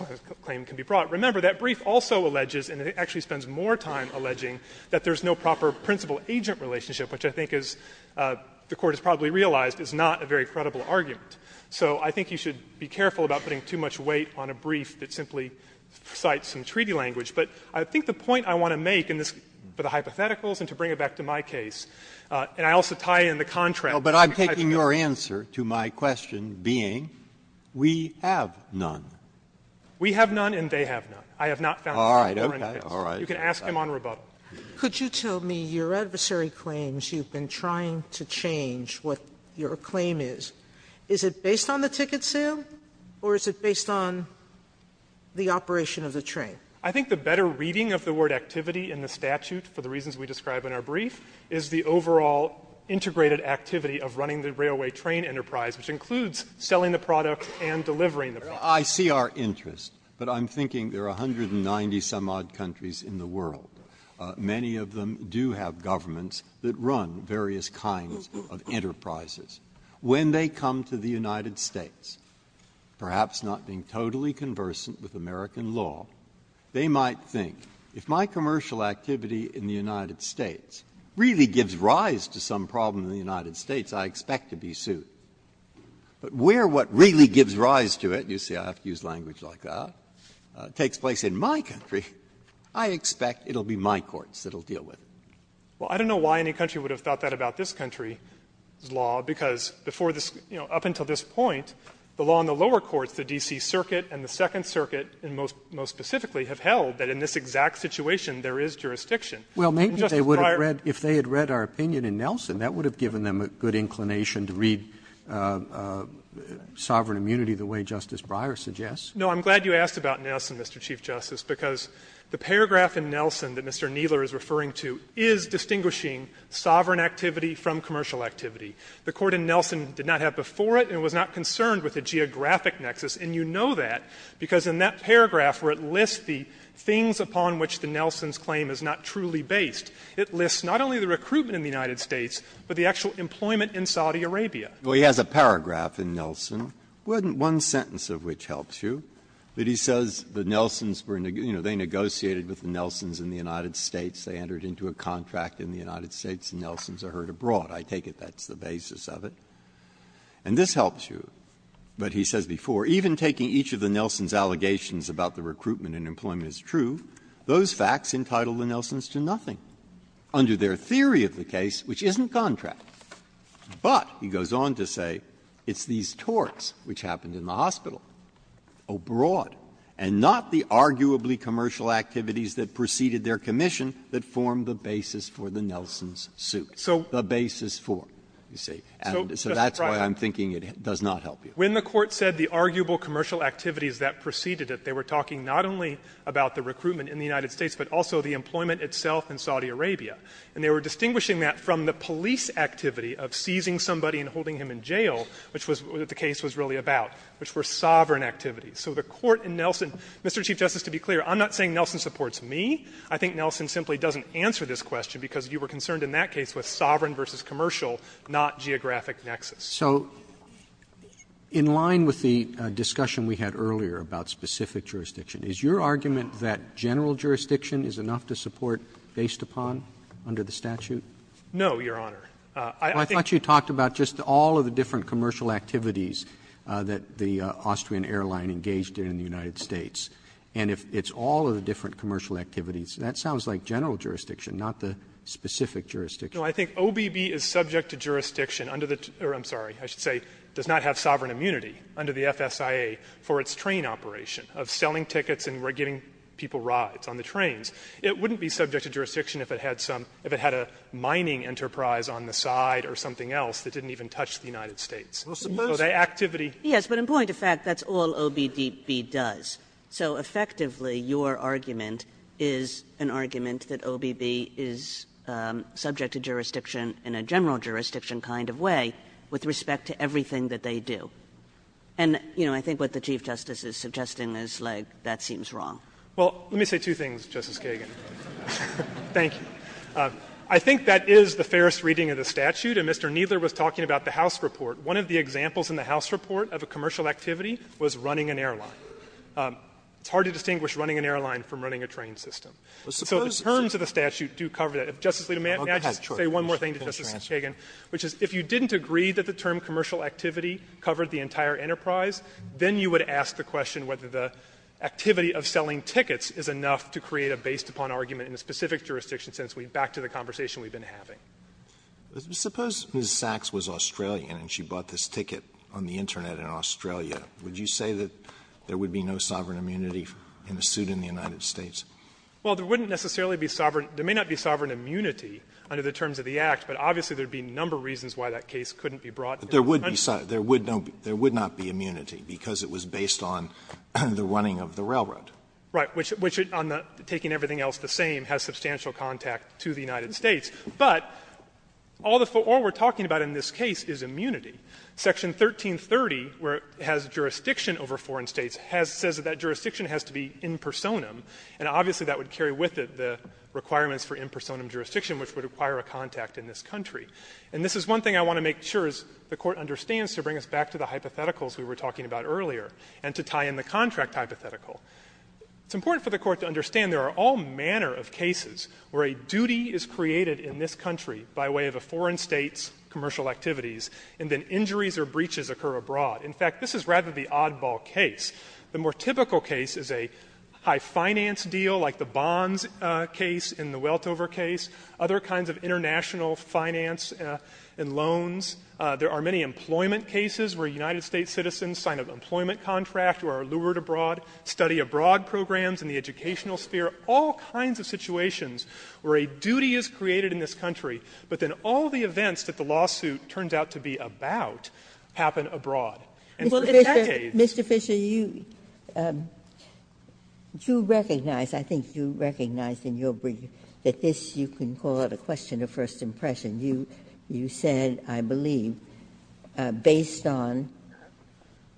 claim can be brought. Remember, that brief also alleges, and it actually spends more time alleging, that there is no proper principal-agent relationship, which I think is, the Court has probably realized, is not a very credible argument. So I think you should be careful about putting too much weight on a brief that simply cites some treaty language. But I think the point I want to make in this, for the hypotheticals and to bring it back to my case, and I also tie in the contract. Breyer But I'm taking your answer to my question being, we have none. Fisher We have none and they have none. I have not found any more in the case. All right. Okay. All right. Fisher You can ask him on rebuttal. Sotomayor Could you tell me your adversary claims, you've been trying to change what your claim is. Is it based on the ticket sale or is it based on the operation of the train? Fisher I think the better reading of the word activity in the statute, for the reasons we describe in our brief, is the overall integrated activity of running the railway train enterprise, which includes selling the product and delivering the product. Breyer I see our interest, but I'm thinking there are 190-some-odd countries in the world. Many of them do have governments that run various kinds of enterprises. When they come to the United States, perhaps not being totally conversant with American law, they might think, if my commercial activity in the United States really gives rise to some problem in the United States, I expect to be sued. But where what really gives rise to it, you see I have to use language like that, takes place in my country, I expect it will be my courts that will deal with it. Fisher Because up until this point, the law in the lower courts, the D.C. Circuit and the Second Circuit, most specifically, have held that in this exact situation there is And Justice Breyer — Roberts Well, maybe if they had read our opinion in Nelson, that would have given them a good inclination to read sovereign immunity the way Justice Breyer suggests. Fisher No, I'm glad you asked about Nelson, Mr. Chief Justice, because the paragraph in Nelson that Mr. Kneeler is referring to is distinguishing sovereign activity from commercial activity. The court in Nelson did not have before it and was not concerned with the geographic nexus, and you know that because in that paragraph where it lists the things upon which the Nelsons claim is not truly based, it lists not only the recruitment in the United States, but the actual employment in Saudi Arabia. Breyer Well, he has a paragraph in Nelson, one sentence of which helps you, that he says the Nelsons were, you know, they negotiated with the Nelsons in the United States, they entered into a contract in the United States, and Nelsons are heard abroad. I take it that's the basis of it. And this helps you, but he says before, even taking each of the Nelsons' allegations about the recruitment and employment as true, those facts entitled the Nelsons to nothing under their theory of the case, which isn't contract. But he goes on to say it's these torts which happened in the hospital, abroad, and not the arguably commercial activities that preceded their commission that formed the basis for the Nelsons' suit. The basis for, you see. And so that's why I'm thinking it does not help you. Fisherman When the Court said the arguable commercial activities that preceded it, they were talking not only about the recruitment in the United States, but also the employment itself in Saudi Arabia. And they were distinguishing that from the police activity of seizing somebody and holding him in jail, which was what the case was really about, which were sovereign activities. So the Court in Nelson – Mr. Chief Justice, to be clear, I'm not saying Nelson supports me. I think Nelson simply doesn't answer this question, because you were concerned in that case with sovereign versus commercial, not geographic nexus. Roberts So in line with the discussion we had earlier about specific jurisdiction, is your argument that general jurisdiction is enough to support based upon, under the statute? Fisherman No, Your Honor. I think the Court I thought you talked about just all of the different commercial activities that the Austrian airline engaged in in the United States. And if it's all of the different commercial activities, that sounds like general jurisdiction, not the specific jurisdiction. Fisherman No, I think OBB is subject to jurisdiction under the – or I'm sorry, I should say does not have sovereign immunity under the FSIA for its train operation, of selling tickets and giving people rides on the trains. It wouldn't be subject to jurisdiction if it had some – if it had a mining enterprise on the side or something else that didn't even touch the United States. So the activity – Kagan Yes, but in point of fact, that's all OBB does. So effectively, your argument is an argument that OBB is subject to jurisdiction in a general jurisdiction kind of way with respect to everything that they do. And, you know, I think what the Chief Justice is suggesting is, like, that seems wrong. Fisherman Well, let me say two things, Justice Kagan. Thank you. I think that is the fairest reading of the statute, and Mr. Kneedler was talking about the House report. One of the examples in the House report of a commercial activity was running an airline. It's hard to distinguish running an airline from running a train system. So the terms of the statute do cover that. If Justice Alito may I just say one more thing to Justice Kagan? Which is, if you didn't agree that the term commercial activity covered the entire enterprise, then you would ask the question whether the activity of selling tickets is enough to create a based-upon argument in a specific jurisdiction, since we'd back to the conversation we've been having. Alito Suppose Ms. Sachs was Australian and she bought this ticket on the Internet in Australia. Would you say that there would be no sovereign immunity in a suit in the United Fisherman Well, there wouldn't necessarily be sovereign – there may not be sovereign immunity under the terms of the Act, but obviously there would be a number of reasons why that case couldn't be brought to the country. Alito But there would be – there would not be immunity because it was based on the running of the railroad. Fisherman Right, which, on taking everything else the same, has substantial contact to the United States. But all the – all we're talking about in this case is immunity. Section 1330, where it has jurisdiction over foreign states, has – says that that jurisdiction has to be in personam, and obviously that would carry with it the requirements for in personam jurisdiction, which would require a contact in this country. And this is one thing I want to make sure is the Court understands to bring us back to the hypotheticals we were talking about earlier and to tie in the contract hypothetical. It's important for the Court to understand there are all manner of cases where a duty is created in this country by way of a foreign state's commercial activities and then injuries or breaches occur abroad. In fact, this is rather the oddball case. The more typical case is a high finance deal like the bonds case in the Weltover case, other kinds of international finance and loans. There are many employment cases where United States citizens sign an employment contract or are lured abroad, study abroad programs in the educational sphere, all kinds of situations where a duty is created in this country, but then all the events that the lawsuit turns out to be about happen abroad. And for decades. Ginsburg. Ginsburg. Ginsburg. You recognize, I think you recognize in your brief, that this, you can call it a question of first impression. You said, I believe, based on,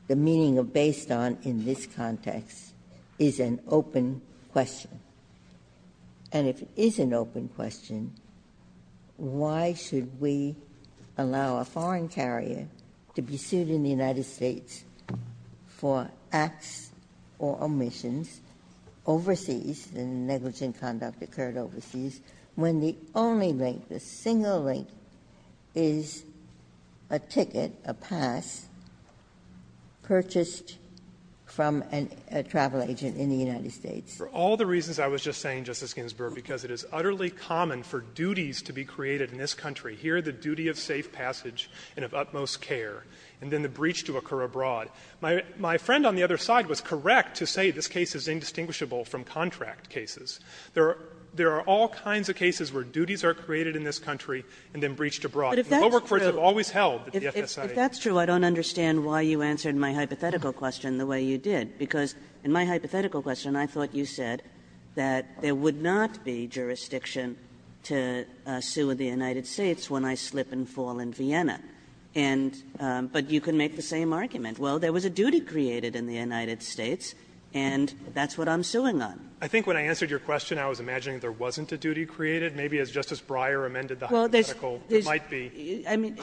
the meaning of based on in this context is an open question. And if it is an open question, why should we allow a foreign carrier to be sued in the United States for acts or omissions overseas, and negligent conduct occurred overseas, when the only link, the single link, is a ticket, a pass, purchased from a travel agent in the United States? For all the reasons I was just saying, Justice Ginsburg, because it is utterly common for duties to be created in this country. Here, the duty of safe passage and of utmost care, and then the breach to occur abroad. My friend on the other side was correct to say this case is indistinguishable from contract cases. There are all kinds of cases where duties are created in this country and then breached abroad. And the lower courts have always held that the FSA has. If that's true, I don't understand why you answered my hypothetical question the way you did. Because in my hypothetical question, I thought you said that there would not be jurisdiction to sue in the United States when I slip and fall in Vienna. And you can make the same argument. Well, there was a duty created in the United States, and that's what I'm suing on. Fisherman, I think when I answered your question, I was imagining there wasn't a duty created. Maybe as Justice Breyer amended the hypothetical, there might be. Kagan. I mean,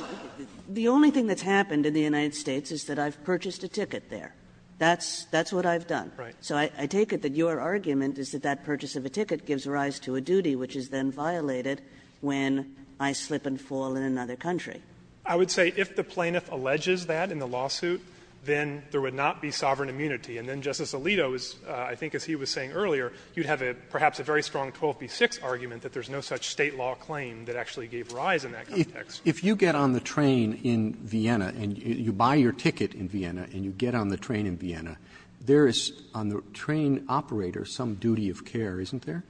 the only thing that's happened in the United States is that I've purchased a ticket there. That's what I've done. Fisherman, so I take it that your argument is that that purchase of a ticket gives rise to a duty, which is then violated when I slip and fall in another country. Fisherman, I would say if the plaintiff alleges that in the lawsuit, then there would not be sovereign immunity. And then Justice Alito is, I think as he was saying earlier, you'd have a, perhaps a very strong 12b-6 argument that there's no such State law claim that actually gave rise in that context. Roberts, if you get on the train in Vienna and you buy your ticket in Vienna and you get on the train in Vienna, there is on the train operator some duty of care, isn't there?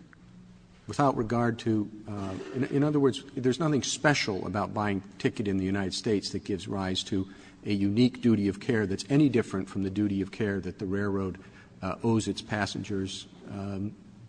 Without regard to, in other words, there's nothing special about buying a ticket in the United States that gives rise to a unique duty of care that's any different from the duty of care that the railroad owes its passengers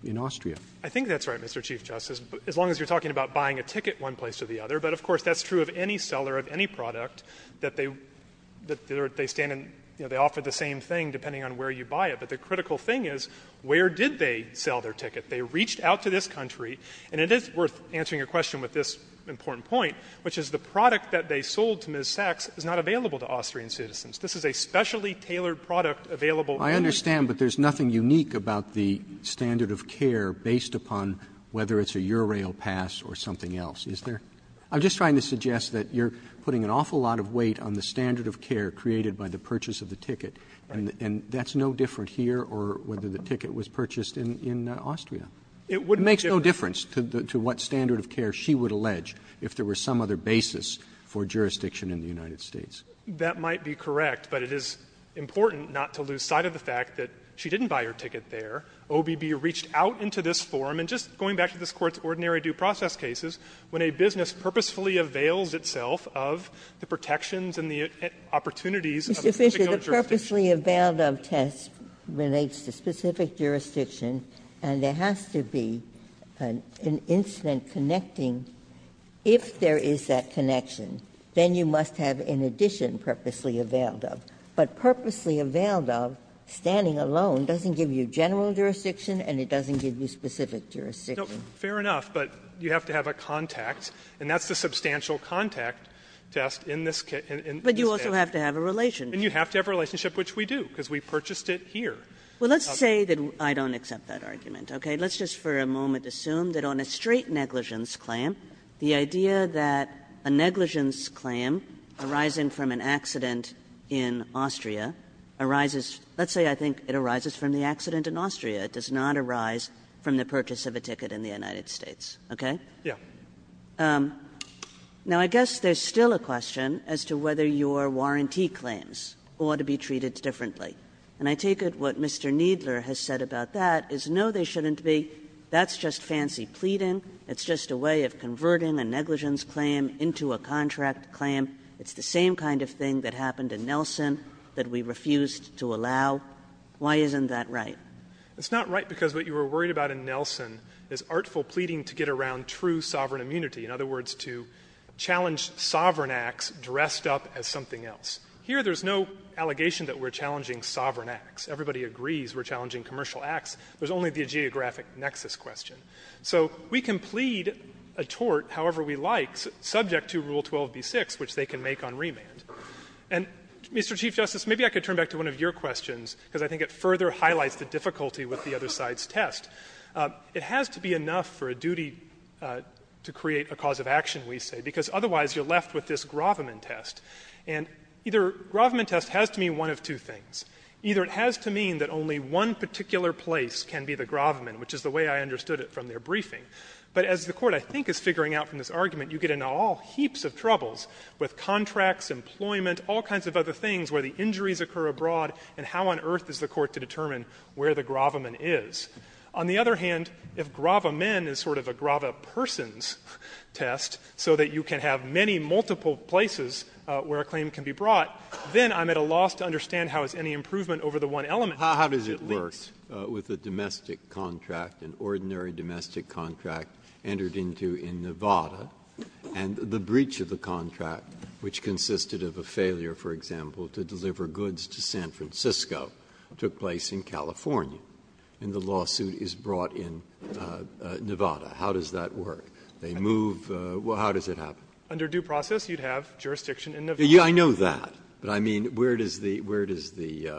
in Austria. Fisherman, I think that's right, Mr. Chief Justice, as long as you're talking about buying a ticket one place or the other. But of course, that's true of any seller of any product that they stand in, you know, they offer the same thing depending on where you buy it. But the critical thing is, where did they sell their ticket? They reached out to this country, and it is worth answering your question with this important point, which is the product that they sold to Ms. Sachs is not available to Austrian citizens. This is a specially tailored product available only to the U.S. Roberts, I understand, but there's nothing unique about the standard of care based upon whether it's a Eurorail pass or something else, is there? I'm just trying to suggest that you're putting an awful lot of weight on the standard of care created by the purchase of the ticket, and that's no different here or whether the ticket was purchased in Austria. It makes no difference to what standard of care she would allege if there were some other basis for jurisdiction in the United States. Fisherman, that might be correct, but it is important not to lose sight of the fact that she didn't buy her ticket there. OBB reached out into this forum, and just going back to this Court's ordinary due process cases, when a business purposefully avails itself of the protections and the opportunities of a particular jurisdiction. Ginsburg. The purposefully availed of test relates to specific jurisdiction, and there has to be an incident connecting. If there is that connection, then you must have an addition purposely availed of. But purposely availed of, standing alone, doesn't give you general jurisdiction and it doesn't give you specific jurisdiction. Fair enough, but you have to have a contact, and that's the substantial contact test in this case, in this case. Kagan. But you also have to have a relationship. And you have to have a relationship, which we do, because we purchased it here. Well, let's say that I don't accept that argument, okay? Let's just for a moment assume that on a straight negligence claim, the idea that a negligence claim arising from an accident in Austria arises, let's say I think it arises from the accident in Austria. It does not arise from the purchase of a ticket in the United States, okay? Yeah. Now, I guess there's still a question as to whether your warranty claims ought to be treated differently. And I take it what Mr. Kneedler has said about that is, no, they shouldn't be. That's just fancy pleading. It's just a way of converting a negligence claim into a contract claim. It's the same kind of thing that happened in Nelson that we refused to allow. Why isn't that right? It's not right because what you were worried about in Nelson is artful pleading to get around true sovereign immunity, in other words, to challenge sovereign acts dressed up as something else. Here there's no allegation that we're challenging sovereign acts. Everybody agrees we're challenging commercial acts. There's only the geographic nexus question. So we can plead a tort however we like subject to Rule 12b-6, which they can make on remand. And, Mr. Chief Justice, maybe I could turn back to one of your questions, because I think it further highlights the difficulty with the other side's test. It has to be enough for a duty to create a cause of action, we say, because otherwise you're left with this Graviman test. And either Graviman test has to mean one of two things. Either it has to mean that only one particular place can be the Graviman, which is the way I understood it from their briefing. But as the Court, I think, is figuring out from this argument, you get into all heaps of troubles with contracts, employment, all kinds of other things where the injuries occur abroad, and how on earth is the Court to determine where the Graviman is? On the other hand, if Graviman is sort of a gravipersons test, so that you can have many multiple places where a claim can be brought, then I'm at a loss to understand how is any improvement over the one element. Breyer. How does it work with a domestic contract, an ordinary domestic contract, entered into in Nevada, and the breach of the contract, which consisted of a failure, for example, to deliver goods to San Francisco, took place in California. And the lawsuit is brought in Nevada. How does that work? They move the law. How does it happen? Under due process, you would have jurisdiction in Nevada. I know that. But I mean, where does the, where does the.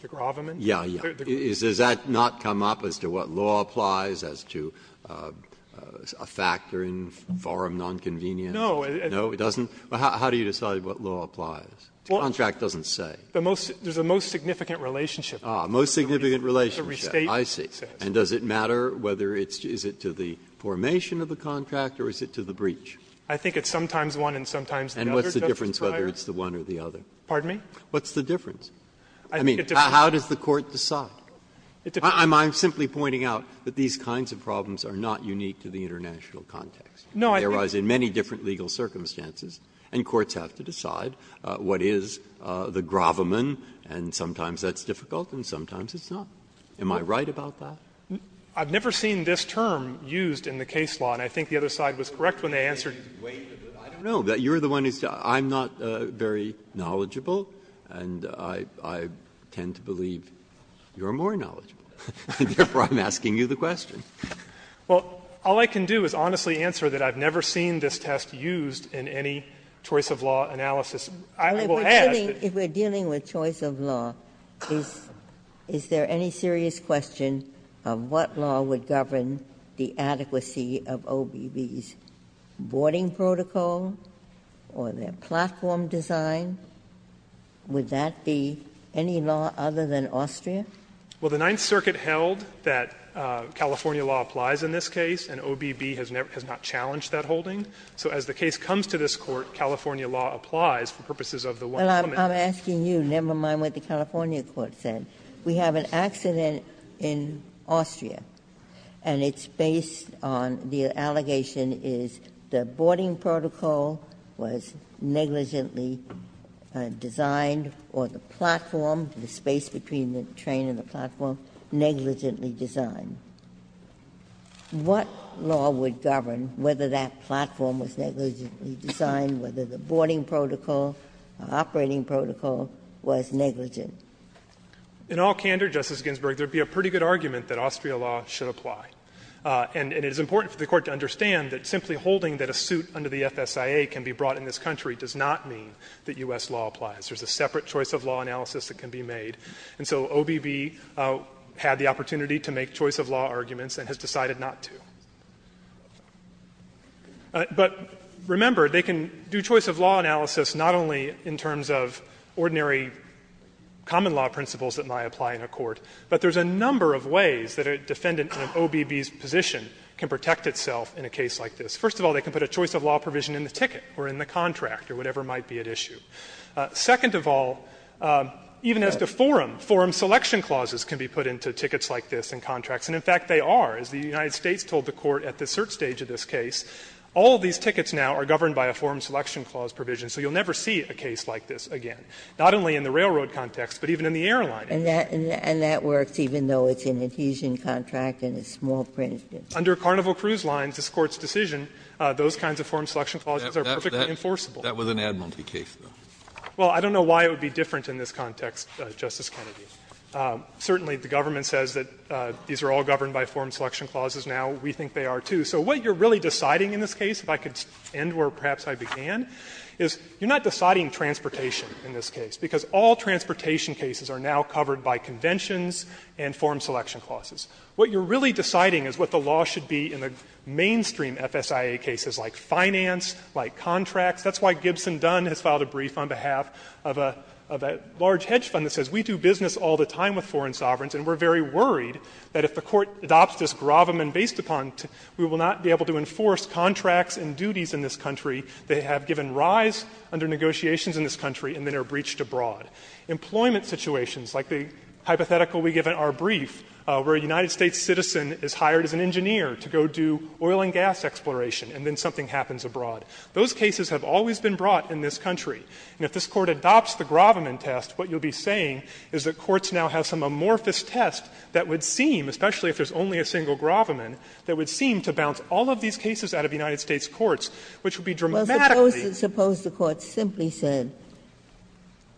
The Graviman? Yeah, yeah. Does that not come up as to what law applies, as to a factor in forum nonconvenience? No. No, it doesn't? How do you decide what law applies? The contract doesn't say. The most, there's a most significant relationship. Ah, most significant relationship, I see. And does it matter whether it's, is it to the formation of the contract or is it to the breach? I think it's sometimes one and sometimes the other, Justice Breyer. And what's the difference whether it's the one or the other? Pardon me? What's the difference? I mean, how does the Court decide? I'm simply pointing out that these kinds of problems are not unique to the international context. No, I think. They arise in many different legal circumstances, and courts have to decide what is the Graviman, and sometimes that's difficult and sometimes it's not. Am I right about that? I've never seen this term used in the case law, and I think the other side was correct when they answered. I don't know. You're the one who's, I'm not very knowledgeable, and I tend to believe you're more knowledgeable. Therefore, I'm asking you the question. Well, all I can do is honestly answer that I've never seen this test used in any choice of law analysis. I will ask that you answer that. If we're dealing with choice of law, is there any serious question of what law would govern the adequacy of OBB's boarding protocol or their platform design? Would that be any law other than Austria? Well, the Ninth Circuit held that California law applies in this case, and OBB has not challenged that holding. So as the case comes to this Court, California law applies for purposes of the one comment. Well, I'm asking you, never mind what the California court said. We have an accident in Austria, and it's based on the allegation is the boarding protocol was negligently designed or the platform, the space between the train and the platform, negligently designed. What law would govern whether that platform was negligently designed, whether the boarding protocol, operating protocol was negligent? In all candor, Justice Ginsburg, there would be a pretty good argument that Austria law should apply. And it is important for the Court to understand that simply holding that a suit under the FSIA can be brought in this country does not mean that U.S. law applies. There's a separate choice of law analysis that can be made. And so OBB had the opportunity to make choice of law arguments and has decided not to. But remember, they can do choice of law analysis not only in terms of ordinary common law principles that might apply in a court, but there's a number of ways that a defendant in an OBB's position can protect itself in a case like this. First of all, they can put a choice of law provision in the ticket or in the contract or whatever might be at issue. Second of all, even as to forum, forum selection clauses can be put into tickets like this in contracts. And in fact, they are. As the United States told the Court at the cert stage of this case, all of these tickets now are governed by a forum selection clause provision, so you'll never see a case like this again, not only in the railroad context, but even in the airline case. Ginsburg. And that works even though it's an adhesion contract and it's small print. Under Carnival Cruise Lines, this Court's decision, those kinds of forum selection clauses are perfectly enforceable. Kennedy. That was an admiralty case, though. Well, I don't know why it would be different in this context, Justice Kennedy. Certainly, the government says that these are all governed by forum selection clauses now. We think they are, too. So what you're really deciding in this case, if I could end where perhaps I began, is you're not deciding transportation in this case, because all transportation cases are now covered by conventions and forum selection clauses. What you're really deciding is what the law should be in the mainstream FSIA cases like finance, like contracts. That's why Gibson Dunn has filed a brief on behalf of a large hedge fund that says we do business all the time with foreign sovereigns, and we're very worried that if the Court adopts this gravamen based upon, we will not be able to enforce contracts and duties in this country that have given rise under negotiations in this country and then are breached abroad. Employment situations, like the hypothetical we give in our brief, where a United States citizen is hired as an engineer to go do oil and gas exploration and then something happens abroad. Those cases have always been brought in this country. And if this Court adopts the gravamen test, what you'll be saying is that courts now have some amorphous test that would seem, especially if there's only a single gravamen, that would seem to bounce all of these cases out of United States courts, which would be dramatically. Ginsburg. Well, suppose the Court simply said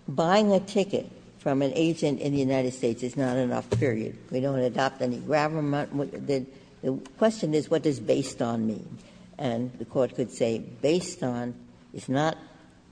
buying a ticket from an agent in the United States is not enough, period. We don't adopt any gravamen. The question is what does based on mean? And the Court could say based on is not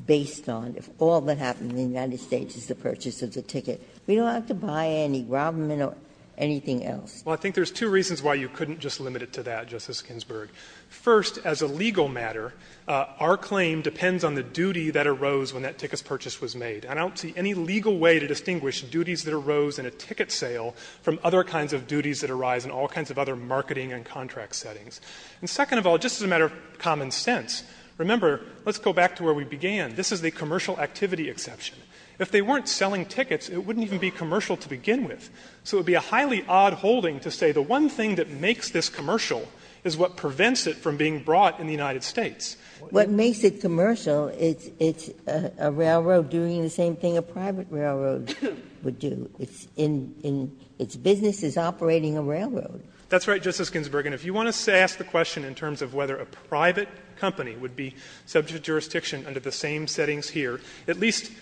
based on. If all that happened in the United States is the purchase of the ticket, we don't have to buy any gravamen or anything else. Fisherman. Well, I think there's two reasons why you couldn't just limit it to that, Justice Ginsburg. First, as a legal matter, our claim depends on the duty that arose when that ticket's purchase was made. And I don't see any legal way to distinguish duties that arose in a ticket sale from other kinds of duties that arise in all kinds of other marketing and contract settings. And second of all, just as a matter of common sense, remember, let's go back to where we began. This is the commercial activity exception. If they weren't selling tickets, it wouldn't even be commercial to begin with. So it would be a highly odd holding to say the one thing that makes this commercial is what prevents it from being brought in the United States. What makes it commercial, it's a railroad doing the same thing a private railroad would do. It's in its business is operating a railroad. That's right, Justice Ginsburg. And if you want to ask the question in terms of whether a private company would be subject to jurisdiction under the same settings here, at least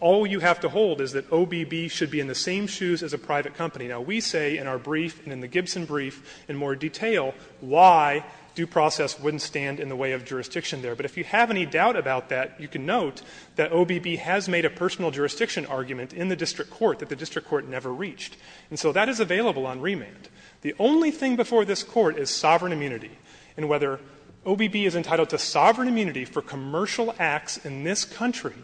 all you have to hold is that OBB should be in the same shoes as a private company. Now, we say in our brief and in the Gibson brief in more detail why due process wouldn't stand in the way of jurisdiction there. But if you have any doubt about that, you can note that OBB has made a personal jurisdiction argument in the district court that the district court never reached. And so that is available on remand. The only thing before this Court is sovereign immunity. And whether OBB is entitled to sovereign immunity for commercial acts in this country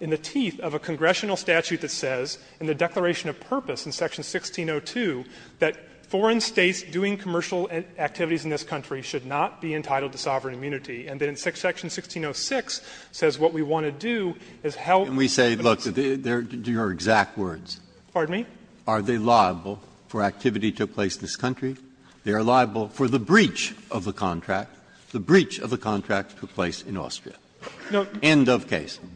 in the teeth of a congressional statute that says in the Declaration of Purpose in Section 1602 that foreign states doing commercial activities in this country should not be entitled to sovereign immunity, and then Section 1606 says what we want to do is help. Breyer, and we say, look, they're your exact words. Fisherman. Pardon me? Are they liable for activity that took place in this country? They are liable for the breach of the contract. The breach of the contract took place in Austria. End of case. Fisherman.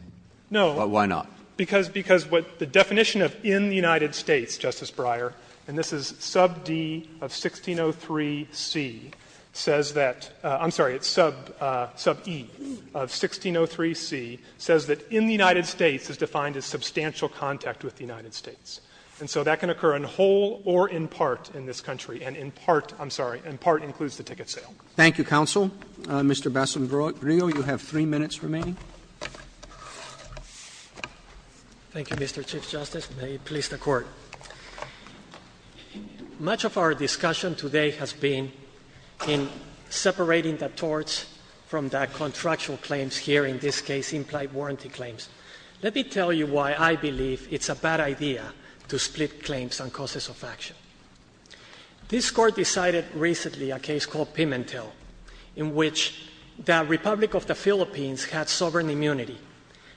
No. Breyer. But why not? Fisherman. Because what the definition of in the United States, Justice Breyer, and this is sub D of 1603C, says that — I'm sorry, it's sub E of 1603C — says that in the United States is defined as substantial contact with the United States. And so that can occur in whole or in part in this country, and in part, I'm sorry, in part includes the ticket sale. Thank you, counsel. Mr. Basombrio, you have three minutes remaining. Thank you, Mr. Chief Justice, and may it please the Court. Much of our discussion today has been in separating the torts from the contractual claims here, in this case implied warranty claims. Let me tell you why I believe it's a bad idea to split claims on causes of action. This Court decided recently a case called Pimentel, in which the Republic of the Philippines had sovereign immunity,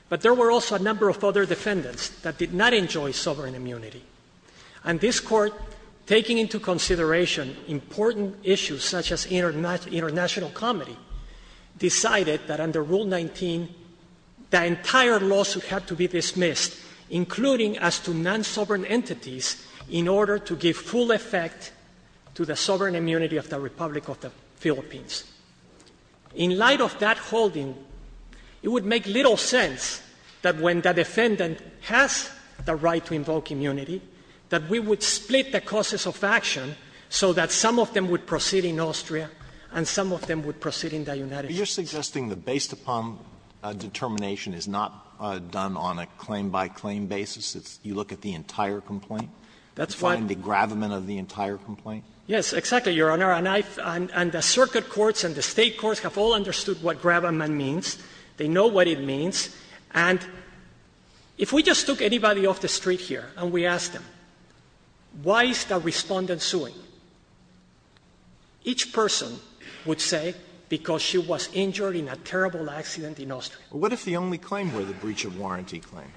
but there were also a number of other defendants that did not enjoy sovereign immunity. And this Court, taking into consideration important issues such as international comity, decided that under Rule 19, the entire lawsuit had to be dismissed, including as to non-sovereign entities, in order to give full effect to the sovereign immunity of the Republic of the Philippines. In light of that holding, it would make little sense that when the defendant has the right to invoke immunity, that we would split the causes of action so that some of them would proceed in the United States. Alito, are you suggesting that based upon determination is not done on a claim-by-claim basis? You look at the entire complaint? That's why. You find the gravamen of the entire complaint? Yes, exactly, Your Honor. And I've – and the circuit courts and the State courts have all understood what gravamen means. They know what it means. And if we just took anybody off the street here and we asked them, why is the Respondent suing, each person would say, because she was injured in a terrible accident in Austria. But what if the only claim were the breach of warranty claim?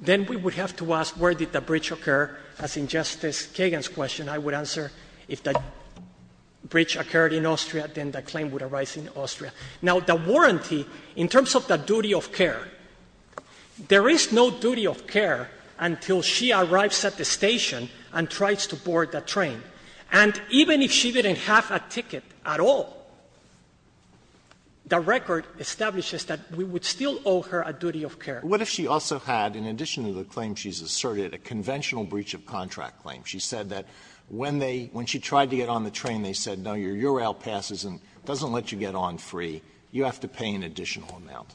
Then we would have to ask where did the breach occur. As in Justice Kagan's question, I would answer if the breach occurred in Austria, then the claim would arise in Austria. Now, the warranty, in terms of the duty of care, there is no duty of care until she arrives at the station and tries to board the train. And even if she didn't have a ticket at all, the record establishes that we would still owe her a duty of care. But what if she also had, in addition to the claim she's asserted, a conventional breach of contract claim? She said that when they – when she tried to get on the train, they said, no, your URAL passes and doesn't let you get on free. You have to pay an additional amount.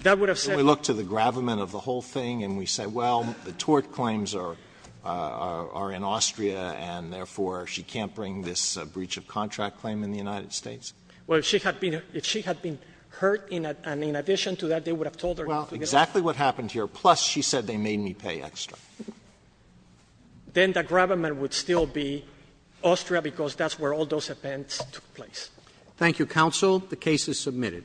That would have said – Alitoro, can we look to the gravamen of the whole thing and we say, well, the tort claims are in Austria and, therefore, she can't bring this breach of contract claim in the United States? Well, if she had been hurt, and in addition to that, they would have told her not to get on the train. Well, exactly what happened here, plus she said they made me pay extra. Then the gravamen would still be Austria, because that's where all those events took place. Thank you, counsel. The case is submitted. Thank you.